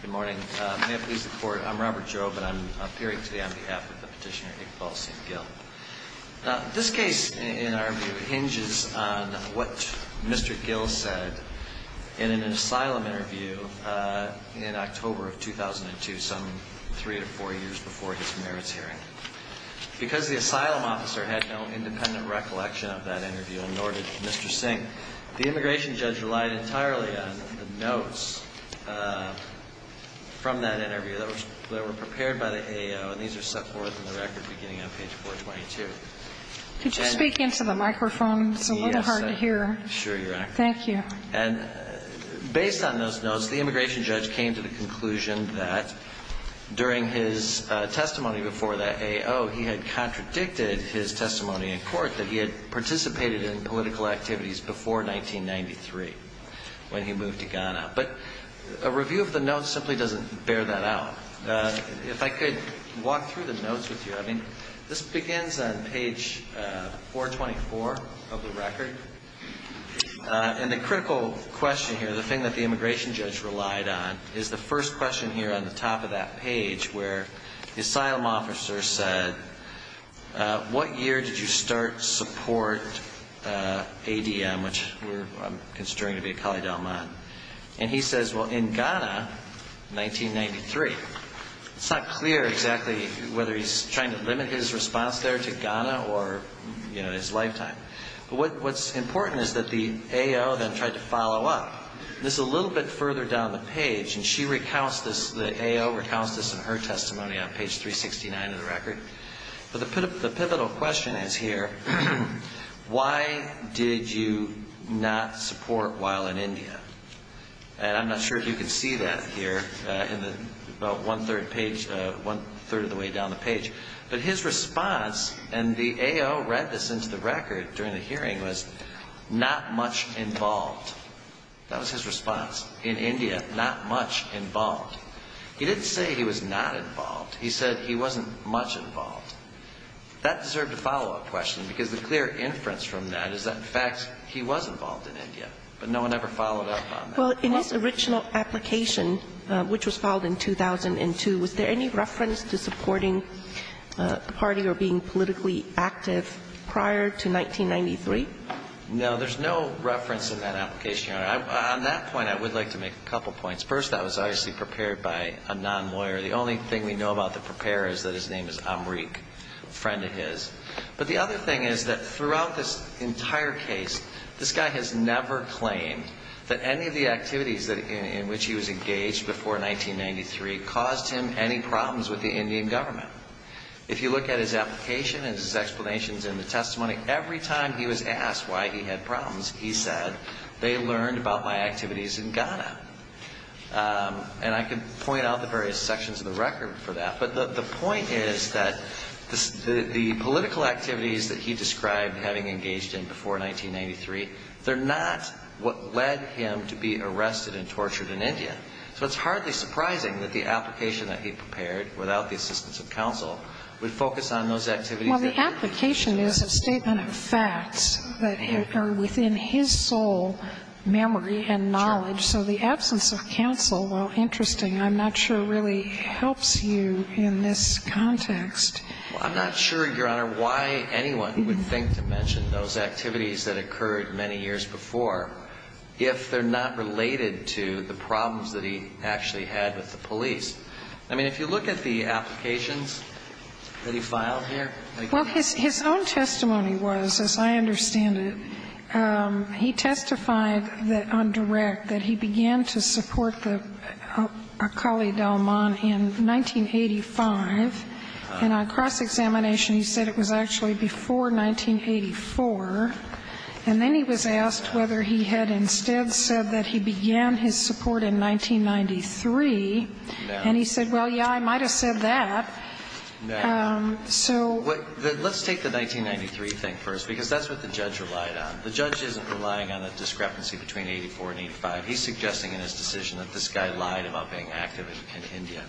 Good morning. May it please the Court, I'm Robert Jove, and I'm appearing today on behalf of the petitioner Iqbal Singh Gill. Now, this case, in our view, hinges on what Mr. Gill said in an asylum interview in October of 2002, some three or four years before his merits hearing. Because the asylum officer had no independent recollection of that interview, and nor did Mr. Singh, the immigration judge relied entirely on the notes from that interview that were prepared by the AO, and these are set forth in the record beginning on page 422. Could you speak into the microphone? It's a little hard to hear. Yes, I'm sure you're accurate. Thank you. And based on those notes, the immigration judge came to the conclusion that during his testimony before the AO, he had contradicted his testimony in court that he had participated in political activities before 1993 when he moved to Ghana. But a review of the notes simply doesn't bear that out. If I could walk through the notes with you. I mean, this begins on page 424 of the record, and the critical question here, the thing that the immigration judge relied on, is the first question here on the top of that page where the asylum officer said, what year did you start support ADM, which I'm considering to be a Cali Delmont? And he says, well, in Ghana, 1993. It's not clear exactly whether he's trying to limit his response there to Ghana or, you know, his lifetime. But what's important is that the AO then tried to follow up. This is a little bit further down the page, and she recounts this, the AO recounts this in her testimony on page 369 of the record. But the pivotal question is here, why did you not support while in India? And I'm not sure if you can see that here in about one-third page, one-third of the way down the page. But his response, and the AO read this into the record during the hearing, was, not much involved. That was his response, in India, not much involved. He didn't say he was not involved. He said he wasn't much involved. That deserved a follow-up question, because the clear inference from that is that, in fact, he was involved in India, but no one ever followed up on that. Well, in his original application, which was filed in 2002, was there any reference to supporting the party or being politically active prior to 1993? No, there's no reference in that application, Your Honor. On that point, I would like to make a couple points. First, that was obviously prepared by a non-lawyer. The only thing we know about the preparer is that his name is Amrik, a friend of his. But the other thing is that throughout this entire case, this guy has never claimed that any of the activities in which he was engaged before 1993 caused him any problems with the Indian government. If you look at his application and his explanations in the testimony, every time he was asked why he had problems, he said, they learned about my activities in Ghana. And I can point out the various sections of the record for that. But the point is that the political activities that he described having engaged in before 1993, they're not what led him to be arrested and tortured in India. So it's hardly surprising that the application that he prepared without the assistance of counsel would focus on those activities. Well, the application is a statement of facts that are within his sole memory and knowledge. So the absence of counsel, while interesting, I'm not sure really helps you in this context. I'm not sure, Your Honor, why anyone would think to mention those activities that occurred many years before if they're not related to the problems that he actually had with the police. I mean, if you look at the applications that he filed here. Well, his own testimony was, as I understand it, he testified on direct that he began to support the Akali Dalman in 1985, and on cross-examination he said it was actually before 1984. And then he was asked whether he had instead said that he began his support in 1993. And he said, well, yeah, I might have said that. So. Let's take the 1993 thing first, because that's what the judge relied on. The judge isn't relying on a discrepancy between 84 and 85. He's suggesting in his decision that this guy lied about being active in India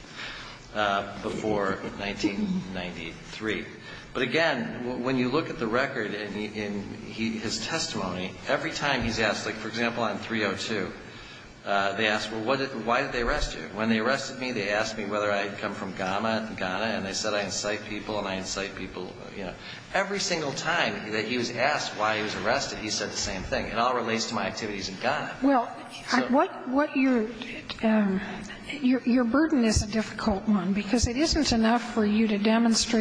before 1993. But again, when you look at the record in his testimony, every time he's asked, like, for example, on 302, they ask, well, why did they arrest you? When they arrested me, they asked me whether I had come from Ghana, and they said I incite people and I incite people, you know. Every single time that he was asked why he was arrested, he said the same thing. It all relates to my activities in Ghana. So. Well, what your burden is a difficult one, because it isn't enough for you to demonstrate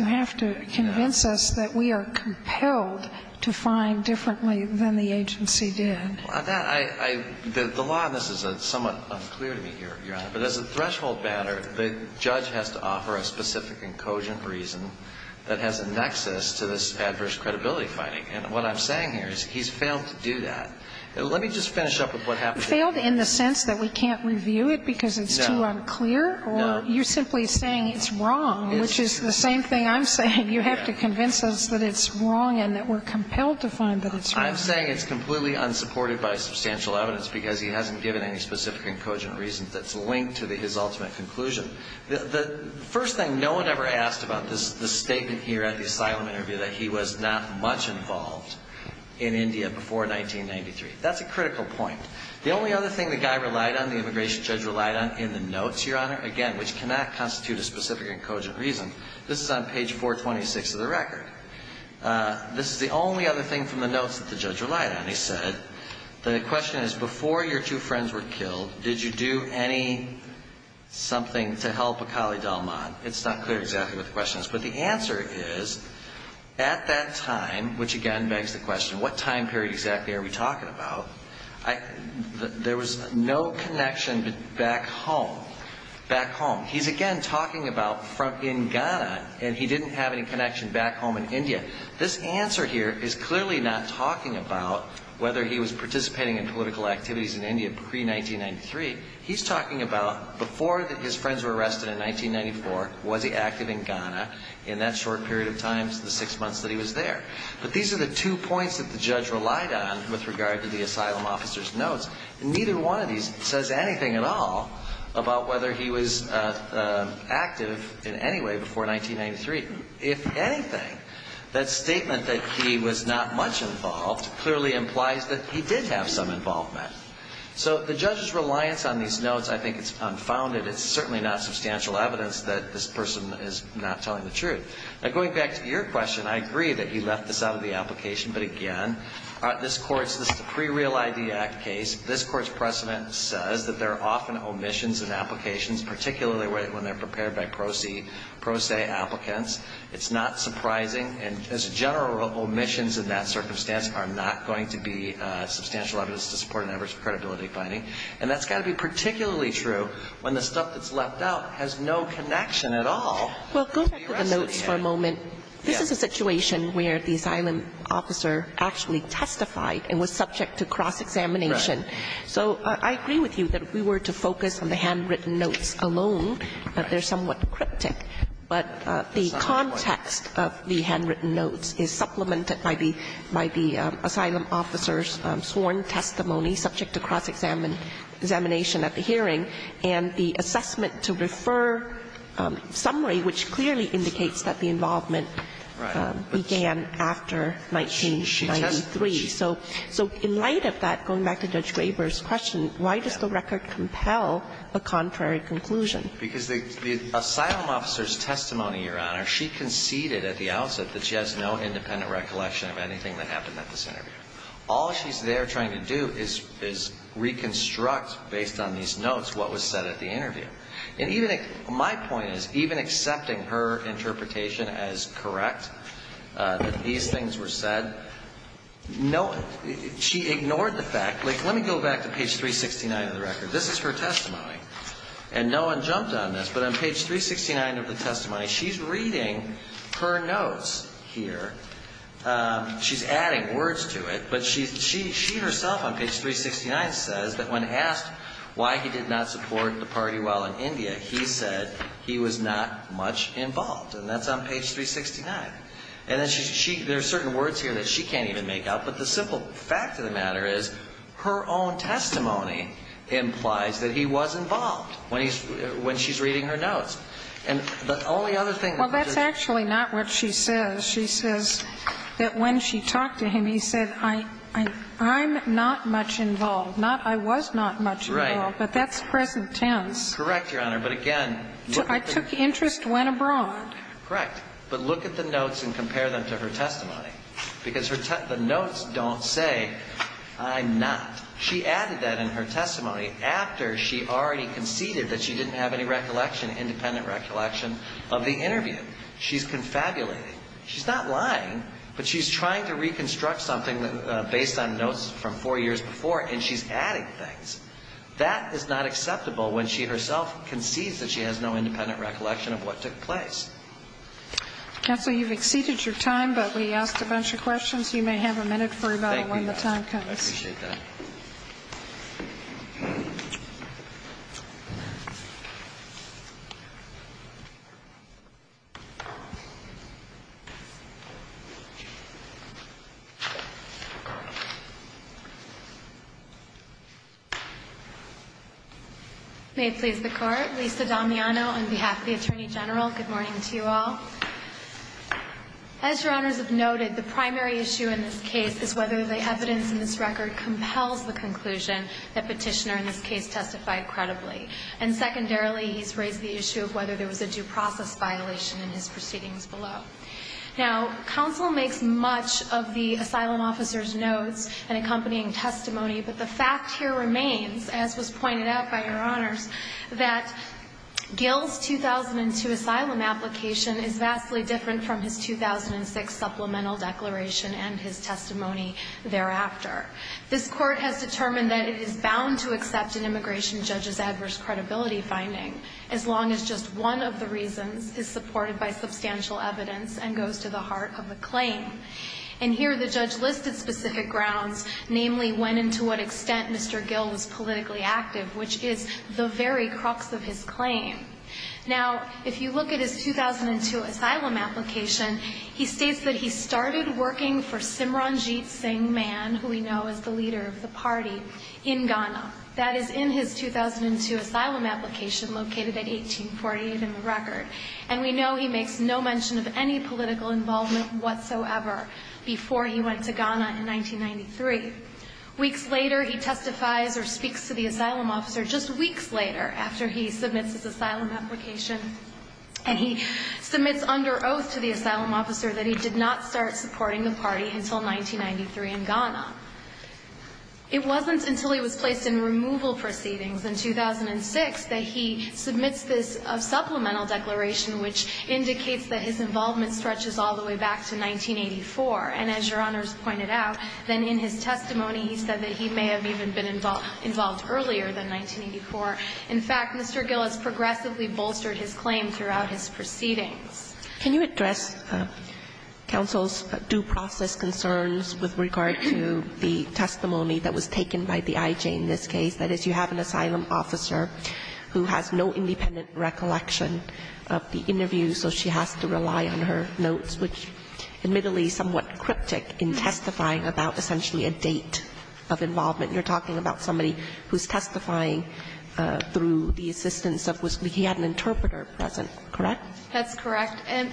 You have to convince us that we are compelled to find differently than the agency did. The law on this is somewhat unclear to me, Your Honor. But as a threshold matter, the judge has to offer a specific and cogent reason that has a nexus to this adverse credibility finding. And what I'm saying here is he's failed to do that. Let me just finish up with what happened. Failed in the sense that we can't review it because it's too unclear? No. Or you're simply saying it's wrong, which is the same thing I'm saying. You have to convince us that it's wrong and that we're compelled to find that it's wrong. I'm saying it's completely unsupported by substantial evidence because he hasn't given any specific and cogent reasons that's linked to his ultimate conclusion. The first thing no one ever asked about this statement here at the asylum interview that he was not much involved in India before 1993. That's a critical point. The only other thing the guy relied on, the immigration judge relied on, in the notes, Your Honor, again, which cannot constitute a specific and cogent reason. This is on page 426 of the record. This is the only other thing from the notes that the judge relied on. He said, the question is, before your two friends were killed, did you do any something to help Akali Dalman? It's not clear exactly what the question is. But the answer is, at that time, which again begs the question, what time period exactly are we talking about? There was no connection back home. Back home. He's again talking about in Ghana, and he didn't have any connection back home in India. This answer here is clearly not talking about whether he was participating in political activities in India pre-1993. He's talking about before his friends were arrested in 1994, was he active in Ghana in that short period of time, the six months that he was there. But these are the two points that the judge relied on with regard to the asylum officer's notes. Neither one of these says anything at all about whether he was active in any way before 1993. If anything, that statement that he was not much involved clearly implies that he did have some involvement. So the judge's reliance on these notes, I think, is unfounded. It's certainly not substantial evidence that this person is not telling the truth. Now, going back to your question, I agree that he left this out of the application. But again, this Court's, this is a pre-Real ID Act case. This Court's precedent says that there are often omissions in applications, particularly when they're prepared by pro se applicants. It's not surprising. And as a general rule, omissions in that circumstance are not going to be substantial evidence to support an average credibility finding. And that's got to be particularly true when the stuff that's left out has no connection at all. Well, go back to the notes for a moment. This is a situation where the asylum officer actually testified and was subject to cross-examination. Right. So I agree with you that if we were to focus on the handwritten notes alone, they're somewhat cryptic. But the context of the handwritten notes is supplemented by the asylum officer's sworn testimony subject to cross-examination at the hearing, and the assessment to refer summary, which clearly indicates that the involvement began after 1993. She testified. So in light of that, going back to Judge Graber's question, why does the record compel a contrary conclusion? Because the asylum officer's testimony, Your Honor, she conceded at the outset that she has no independent recollection of anything that happened at this interview. All she's there trying to do is reconstruct, based on these notes, what was said at the interview. And even my point is, even accepting her interpretation as correct, that these things were said, she ignored the fact. Like, let me go back to page 369 of the record. This is her testimony. And no one jumped on this, but on page 369 of the testimony, she's reading her notes here. She's adding words to it, but she herself on page 369 says that when asked why he did not support the party while in India, he said he was not much involved. And that's on page 369. And then she – there are certain words here that she can't even make out. But the simple fact of the matter is, her own testimony implies that he was involved when he's – when she's reading her notes. And the only other thing that Judge – Well, that's actually not what she says. She says that when she talked to him, he said, I'm not much involved. Not I was not much involved. But that's present tense. Correct, Your Honor. But again, look at the notes. I took interest when abroad. Correct. But look at the notes and compare them to her testimony. Because her – the notes don't say, I'm not. She added that in her testimony after she already conceded that she didn't have any recollection, independent recollection, of the interview. She's confabulating. She's not lying, but she's trying to reconstruct something based on notes from four years before, and she's adding things. That is not acceptable when she herself concedes that she has no independent recollection of what took place. Counsel, you've exceeded your time, but we asked a bunch of questions. You may have a minute for rebuttal when the time comes. Thank you. I appreciate that. May it please the Court. Lisa Damiano on behalf of the Attorney General. Good morning to you all. As Your Honors have noted, the primary issue in this case is whether the evidence in this record compels the conclusion that Petitioner in this case testified credibly. And secondarily, he's raised the issue of whether there was a due process violation in his proceedings below. Now, counsel makes much of the asylum officer's notes and accompanying testimony, but the fact here remains, as was pointed out by Your Honors, that Gill's 2002 asylum application is vastly different from his 2006 supplemental declaration and his testimony thereafter. This Court has determined that it is bound to accept an immigration judge's adverse credibility finding as long as just one of the reasons is supported by substantial evidence and goes to the heart of the claim. And here the judge listed specific grounds, namely when and to what extent Mr. Gill was politically active, which is the very crux of his claim. Now, if you look at his 2002 asylum application, he states that he started working for Simranjit Singh Mann, who we know is the leader of the party, in Ghana. That is in his 2002 asylum application located at 1848 in the record. And we know he makes no mention of any political involvement whatsoever before he went to Ghana in 1993. Weeks later, he testifies or speaks to the asylum officer just weeks later after he submits his asylum application, and he submits under oath to the asylum officer that he did not start supporting the party until 1993 in Ghana. It wasn't until he was placed in removal proceedings in 2006 that he submits this supplemental declaration, which indicates that his involvement stretches all the way back to 1984. And as Your Honors pointed out, then in his testimony he said that he may have even been involved earlier than 1984. In fact, Mr. Gill has progressively bolstered his claim throughout his proceedings. Can you address counsel's due process concerns with regard to the testimony that was taken by the IG in this case? That is, you have an asylum officer who has no independent recollection of the interview, so she has to rely on her notes, which admittedly is somewhat cryptic in testifying about essentially a date of involvement. You're talking about somebody who's testifying through the assistance of his interpreter present, correct? That's correct. And,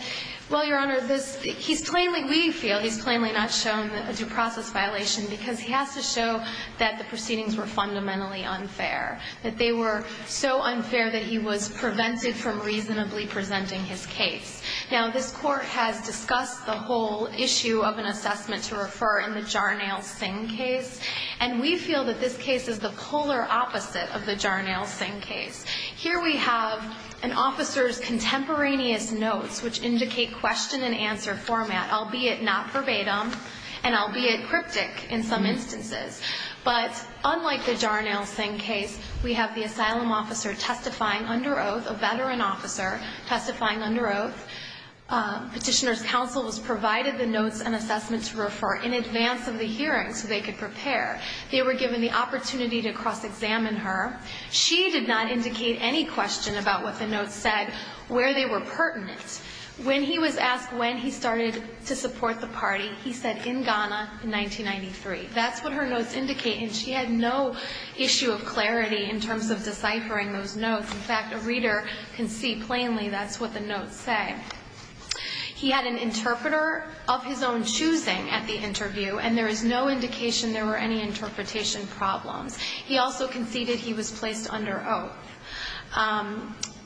well, Your Honor, he's plainly, we feel he's plainly not shown a due process violation because he has to show that the proceedings were fundamentally unfair, that they were so unfair that he was prevented from reasonably presenting his case. Now, this court has discussed the whole issue of an assessment to refer in the Jarnail-Singh case, and we feel that this case is the polar opposite of the Jarnail-Singh case. Here we have an officer's contemporaneous notes, which indicate question and skeptic in some instances. But unlike the Jarnail-Singh case, we have the asylum officer testifying under oath, a veteran officer testifying under oath. Petitioner's counsel was provided the notes and assessments to refer in advance of the hearing so they could prepare. They were given the opportunity to cross-examine her. She did not indicate any question about what the notes said, where they were pertinent. When he was asked when he started to support the party, he said, in Ghana in 1993. That's what her notes indicate, and she had no issue of clarity in terms of deciphering those notes. In fact, a reader can see plainly that's what the notes say. He had an interpreter of his own choosing at the interview, and there is no indication there were any interpretation problems. He also conceded he was placed under oath.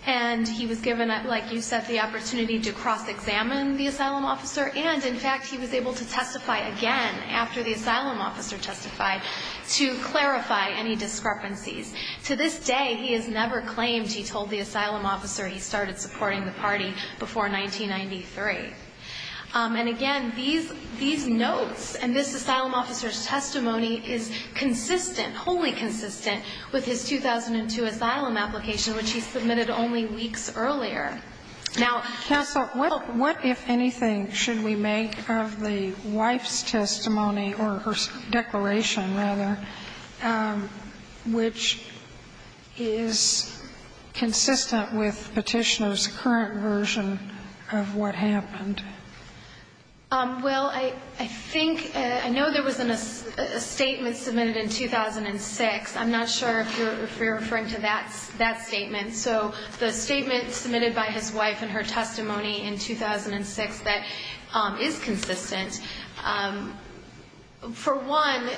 And he was given, like you said, the opportunity to cross-examine the asylum officer. And, in fact, he was able to testify again after the asylum officer testified to clarify any discrepancies. To this day, he has never claimed he told the asylum officer he started supporting the party before 1993. And, again, these notes and this asylum officer's testimony is consistent, wholly consistent, with his 2002 asylum application, which he submitted only weeks earlier. Now ---- Sotomayor, what, if anything, should we make of the wife's testimony, or her declaration, rather, which is consistent with Petitioner's current version of what happened? Well, I think ---- I know there was a statement submitted in 2006. I'm not sure if you're referring to that statement. So the statement submitted by his wife and her testimony in 2006 that is consistent, for one,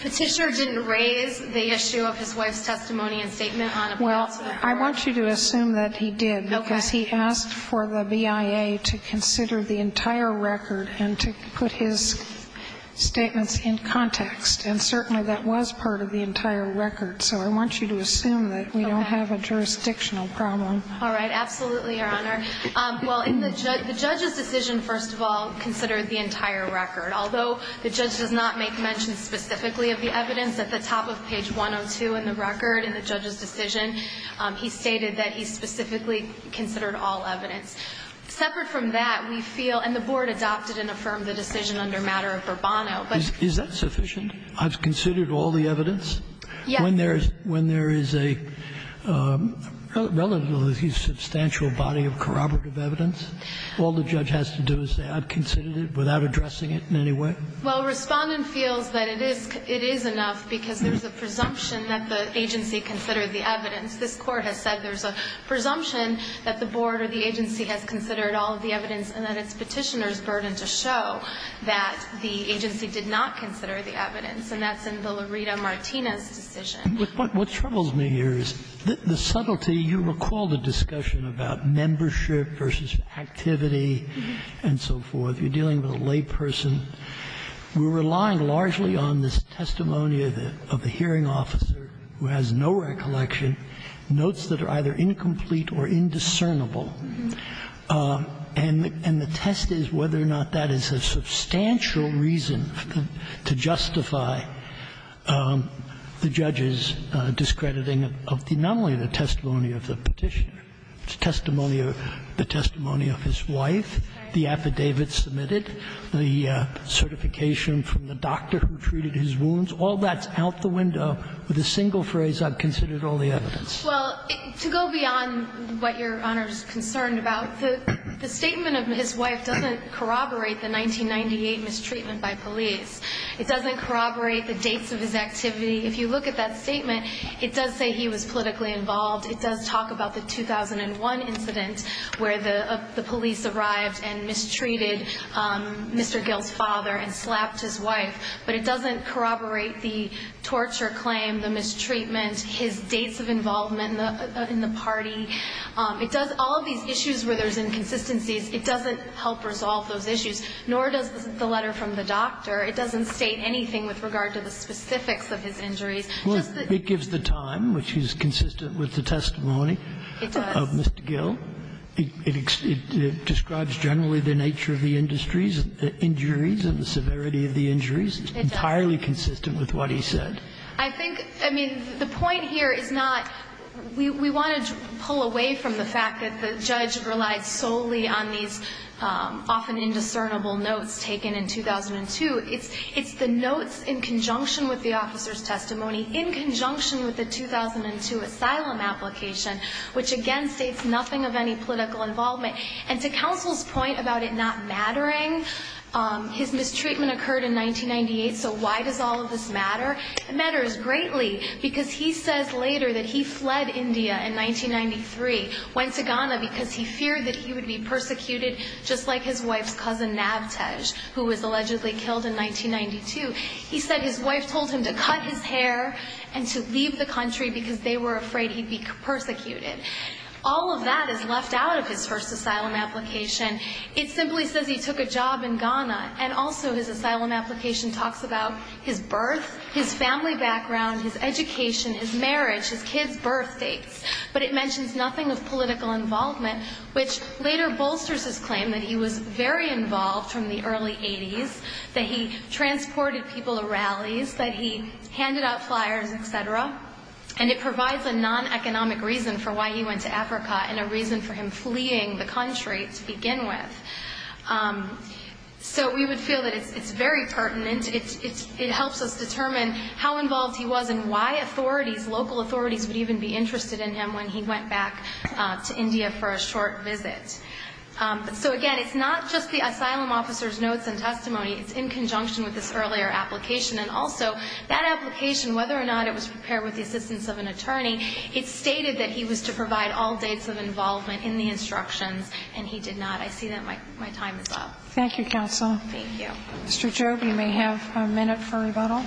Petitioner didn't raise the issue of his wife's testimony and statement on a particular ---- Well, I want you to assume that he did. Okay. Because he asked for the BIA to consider the entire record and to put his statements in context. And certainly that was part of the entire record. So I want you to assume that we don't have a jurisdictional problem. All right. Absolutely, Your Honor. Well, in the judge's decision, first of all, considered the entire record. Although the judge does not make mention specifically of the evidence, at the top of page 102 in the record in the judge's decision, he stated that he specifically considered all evidence. Separate from that, we feel, and the Board adopted and affirmed the decision under matter of Bourbono, but ---- Is that sufficient? I've considered all the evidence? Yes. When there is a relatively substantial body of corroborative evidence, all the judge has to do is say I've considered it without addressing it in any way? Well, Respondent feels that it is enough because there's a presumption that the agency considered the evidence. This Court has said there's a presumption that the Board or the agency has considered all of the evidence and that it's Petitioner's burden to show that the agency did not consider the evidence. And that's in the Laredo-Martinez decision. What troubles me here is the subtlety. You recall the discussion about membership versus activity and so forth. If you're dealing with a layperson, we're relying largely on this testimony of a hearing officer who has no recollection, notes that are either incomplete or indiscernible. And the test is whether or not that is a substantial reason to justify the judge's discrediting of not only the testimony of the Petitioner, the testimony of his wife, the affidavit submitted, the certification from the doctor who treated his wounds. All that's out the window with a single phrase, I've considered all the evidence. Well, to go beyond what Your Honor is concerned about, the statement of his wife doesn't corroborate the 1998 mistreatment by police. It doesn't corroborate the dates of his activity. If you look at that statement, it does say he was politically involved. It does talk about the 2001 incident where the police arrived and mistreated Mr. Gill's father and slapped his wife. But it doesn't corroborate the torture claim, the mistreatment, his dates of involvement in the party. It does all of these issues where there's inconsistencies. It doesn't help resolve those issues, nor does the letter from the doctor. It doesn't state anything with regard to the specifics of his injuries. It gives the time, which is consistent with the testimony of Mr. Gill. It describes generally the nature of the industries, the injuries and the severity of the injuries. It's entirely consistent with what he said. I think, I mean, the point here is not we want to pull away from the fact that the judge relied solely on these often indiscernible notes taken in 2002. It's the notes in conjunction with the officer's testimony, in conjunction with the 2002 asylum application, which again states nothing of any political involvement. And to counsel's point about it not mattering, his mistreatment occurred in 1998, so why does all of this matter? It matters greatly because he says later that he fled India in 1993, went to Ghana because he feared that he would be persecuted just like his wife's cousin Navtej, who was allegedly killed in 1992. He said his wife told him to cut his hair and to leave the country because they were afraid he'd be persecuted. All of that is left out of his first asylum application. It simply says he took a job in Ghana. And also his asylum application talks about his birth, his family background, his education, his marriage, his kids' birth dates. But it mentions nothing of political involvement, which later bolsters his claim that he was very involved from the early 80s, that he transported people to rallies, that he handed out flyers, et cetera. And it provides a non-economic reason for why he went to Africa and a reason for him fleeing the country to begin with. So we would feel that it's very pertinent. It helps us determine how involved he was and why authorities, local authorities, would even be interested in him when he went back to India for a short visit. So, again, it's not just the asylum officer's notes and testimony. It's in conjunction with this earlier application. And also that application, whether or not it was prepared with the assistance of an attorney, it stated that he was to provide all dates of involvement in the instructions, and he did not. I see that my time is up. Thank you, counsel. Thank you. Mr. Job, you may have a minute for rebuttal.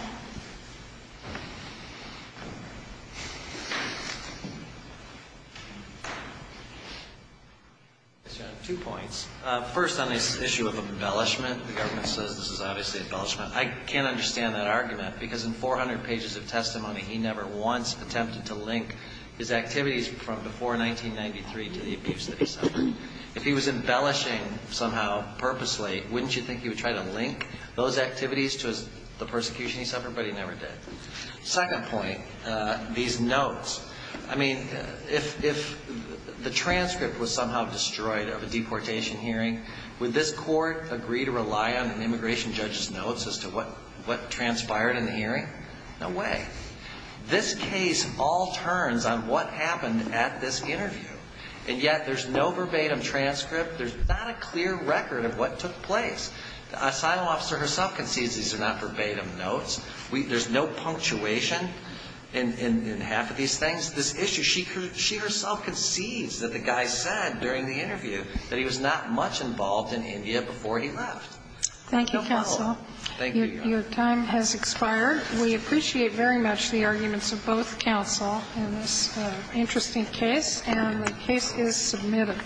Two points. First, on this issue of embellishment, the government says this is obviously embellishment. I can't understand that argument because in 400 pages of testimony, he never once attempted to link his activities from before 1993 to the abuse that he suffered. If he was embellishing somehow purposely, wouldn't you think he would try to link those activities to the persecution he suffered? Yes, everybody never did. Second point, these notes. I mean, if the transcript was somehow destroyed of a deportation hearing, would this court agree to rely on an immigration judge's notes as to what transpired in the hearing? No way. This case all turns on what happened at this interview, and yet there's no verbatim transcript. There's not a clear record of what took place. The asylum officer herself concedes these are not verbatim notes. There's no punctuation in half of these things. This issue, she herself concedes that the guy said during the interview that he was not much involved in India before he left. Thank you, counsel. Your time has expired. We appreciate very much the arguments of both counsel in this interesting case, and the case is submitted.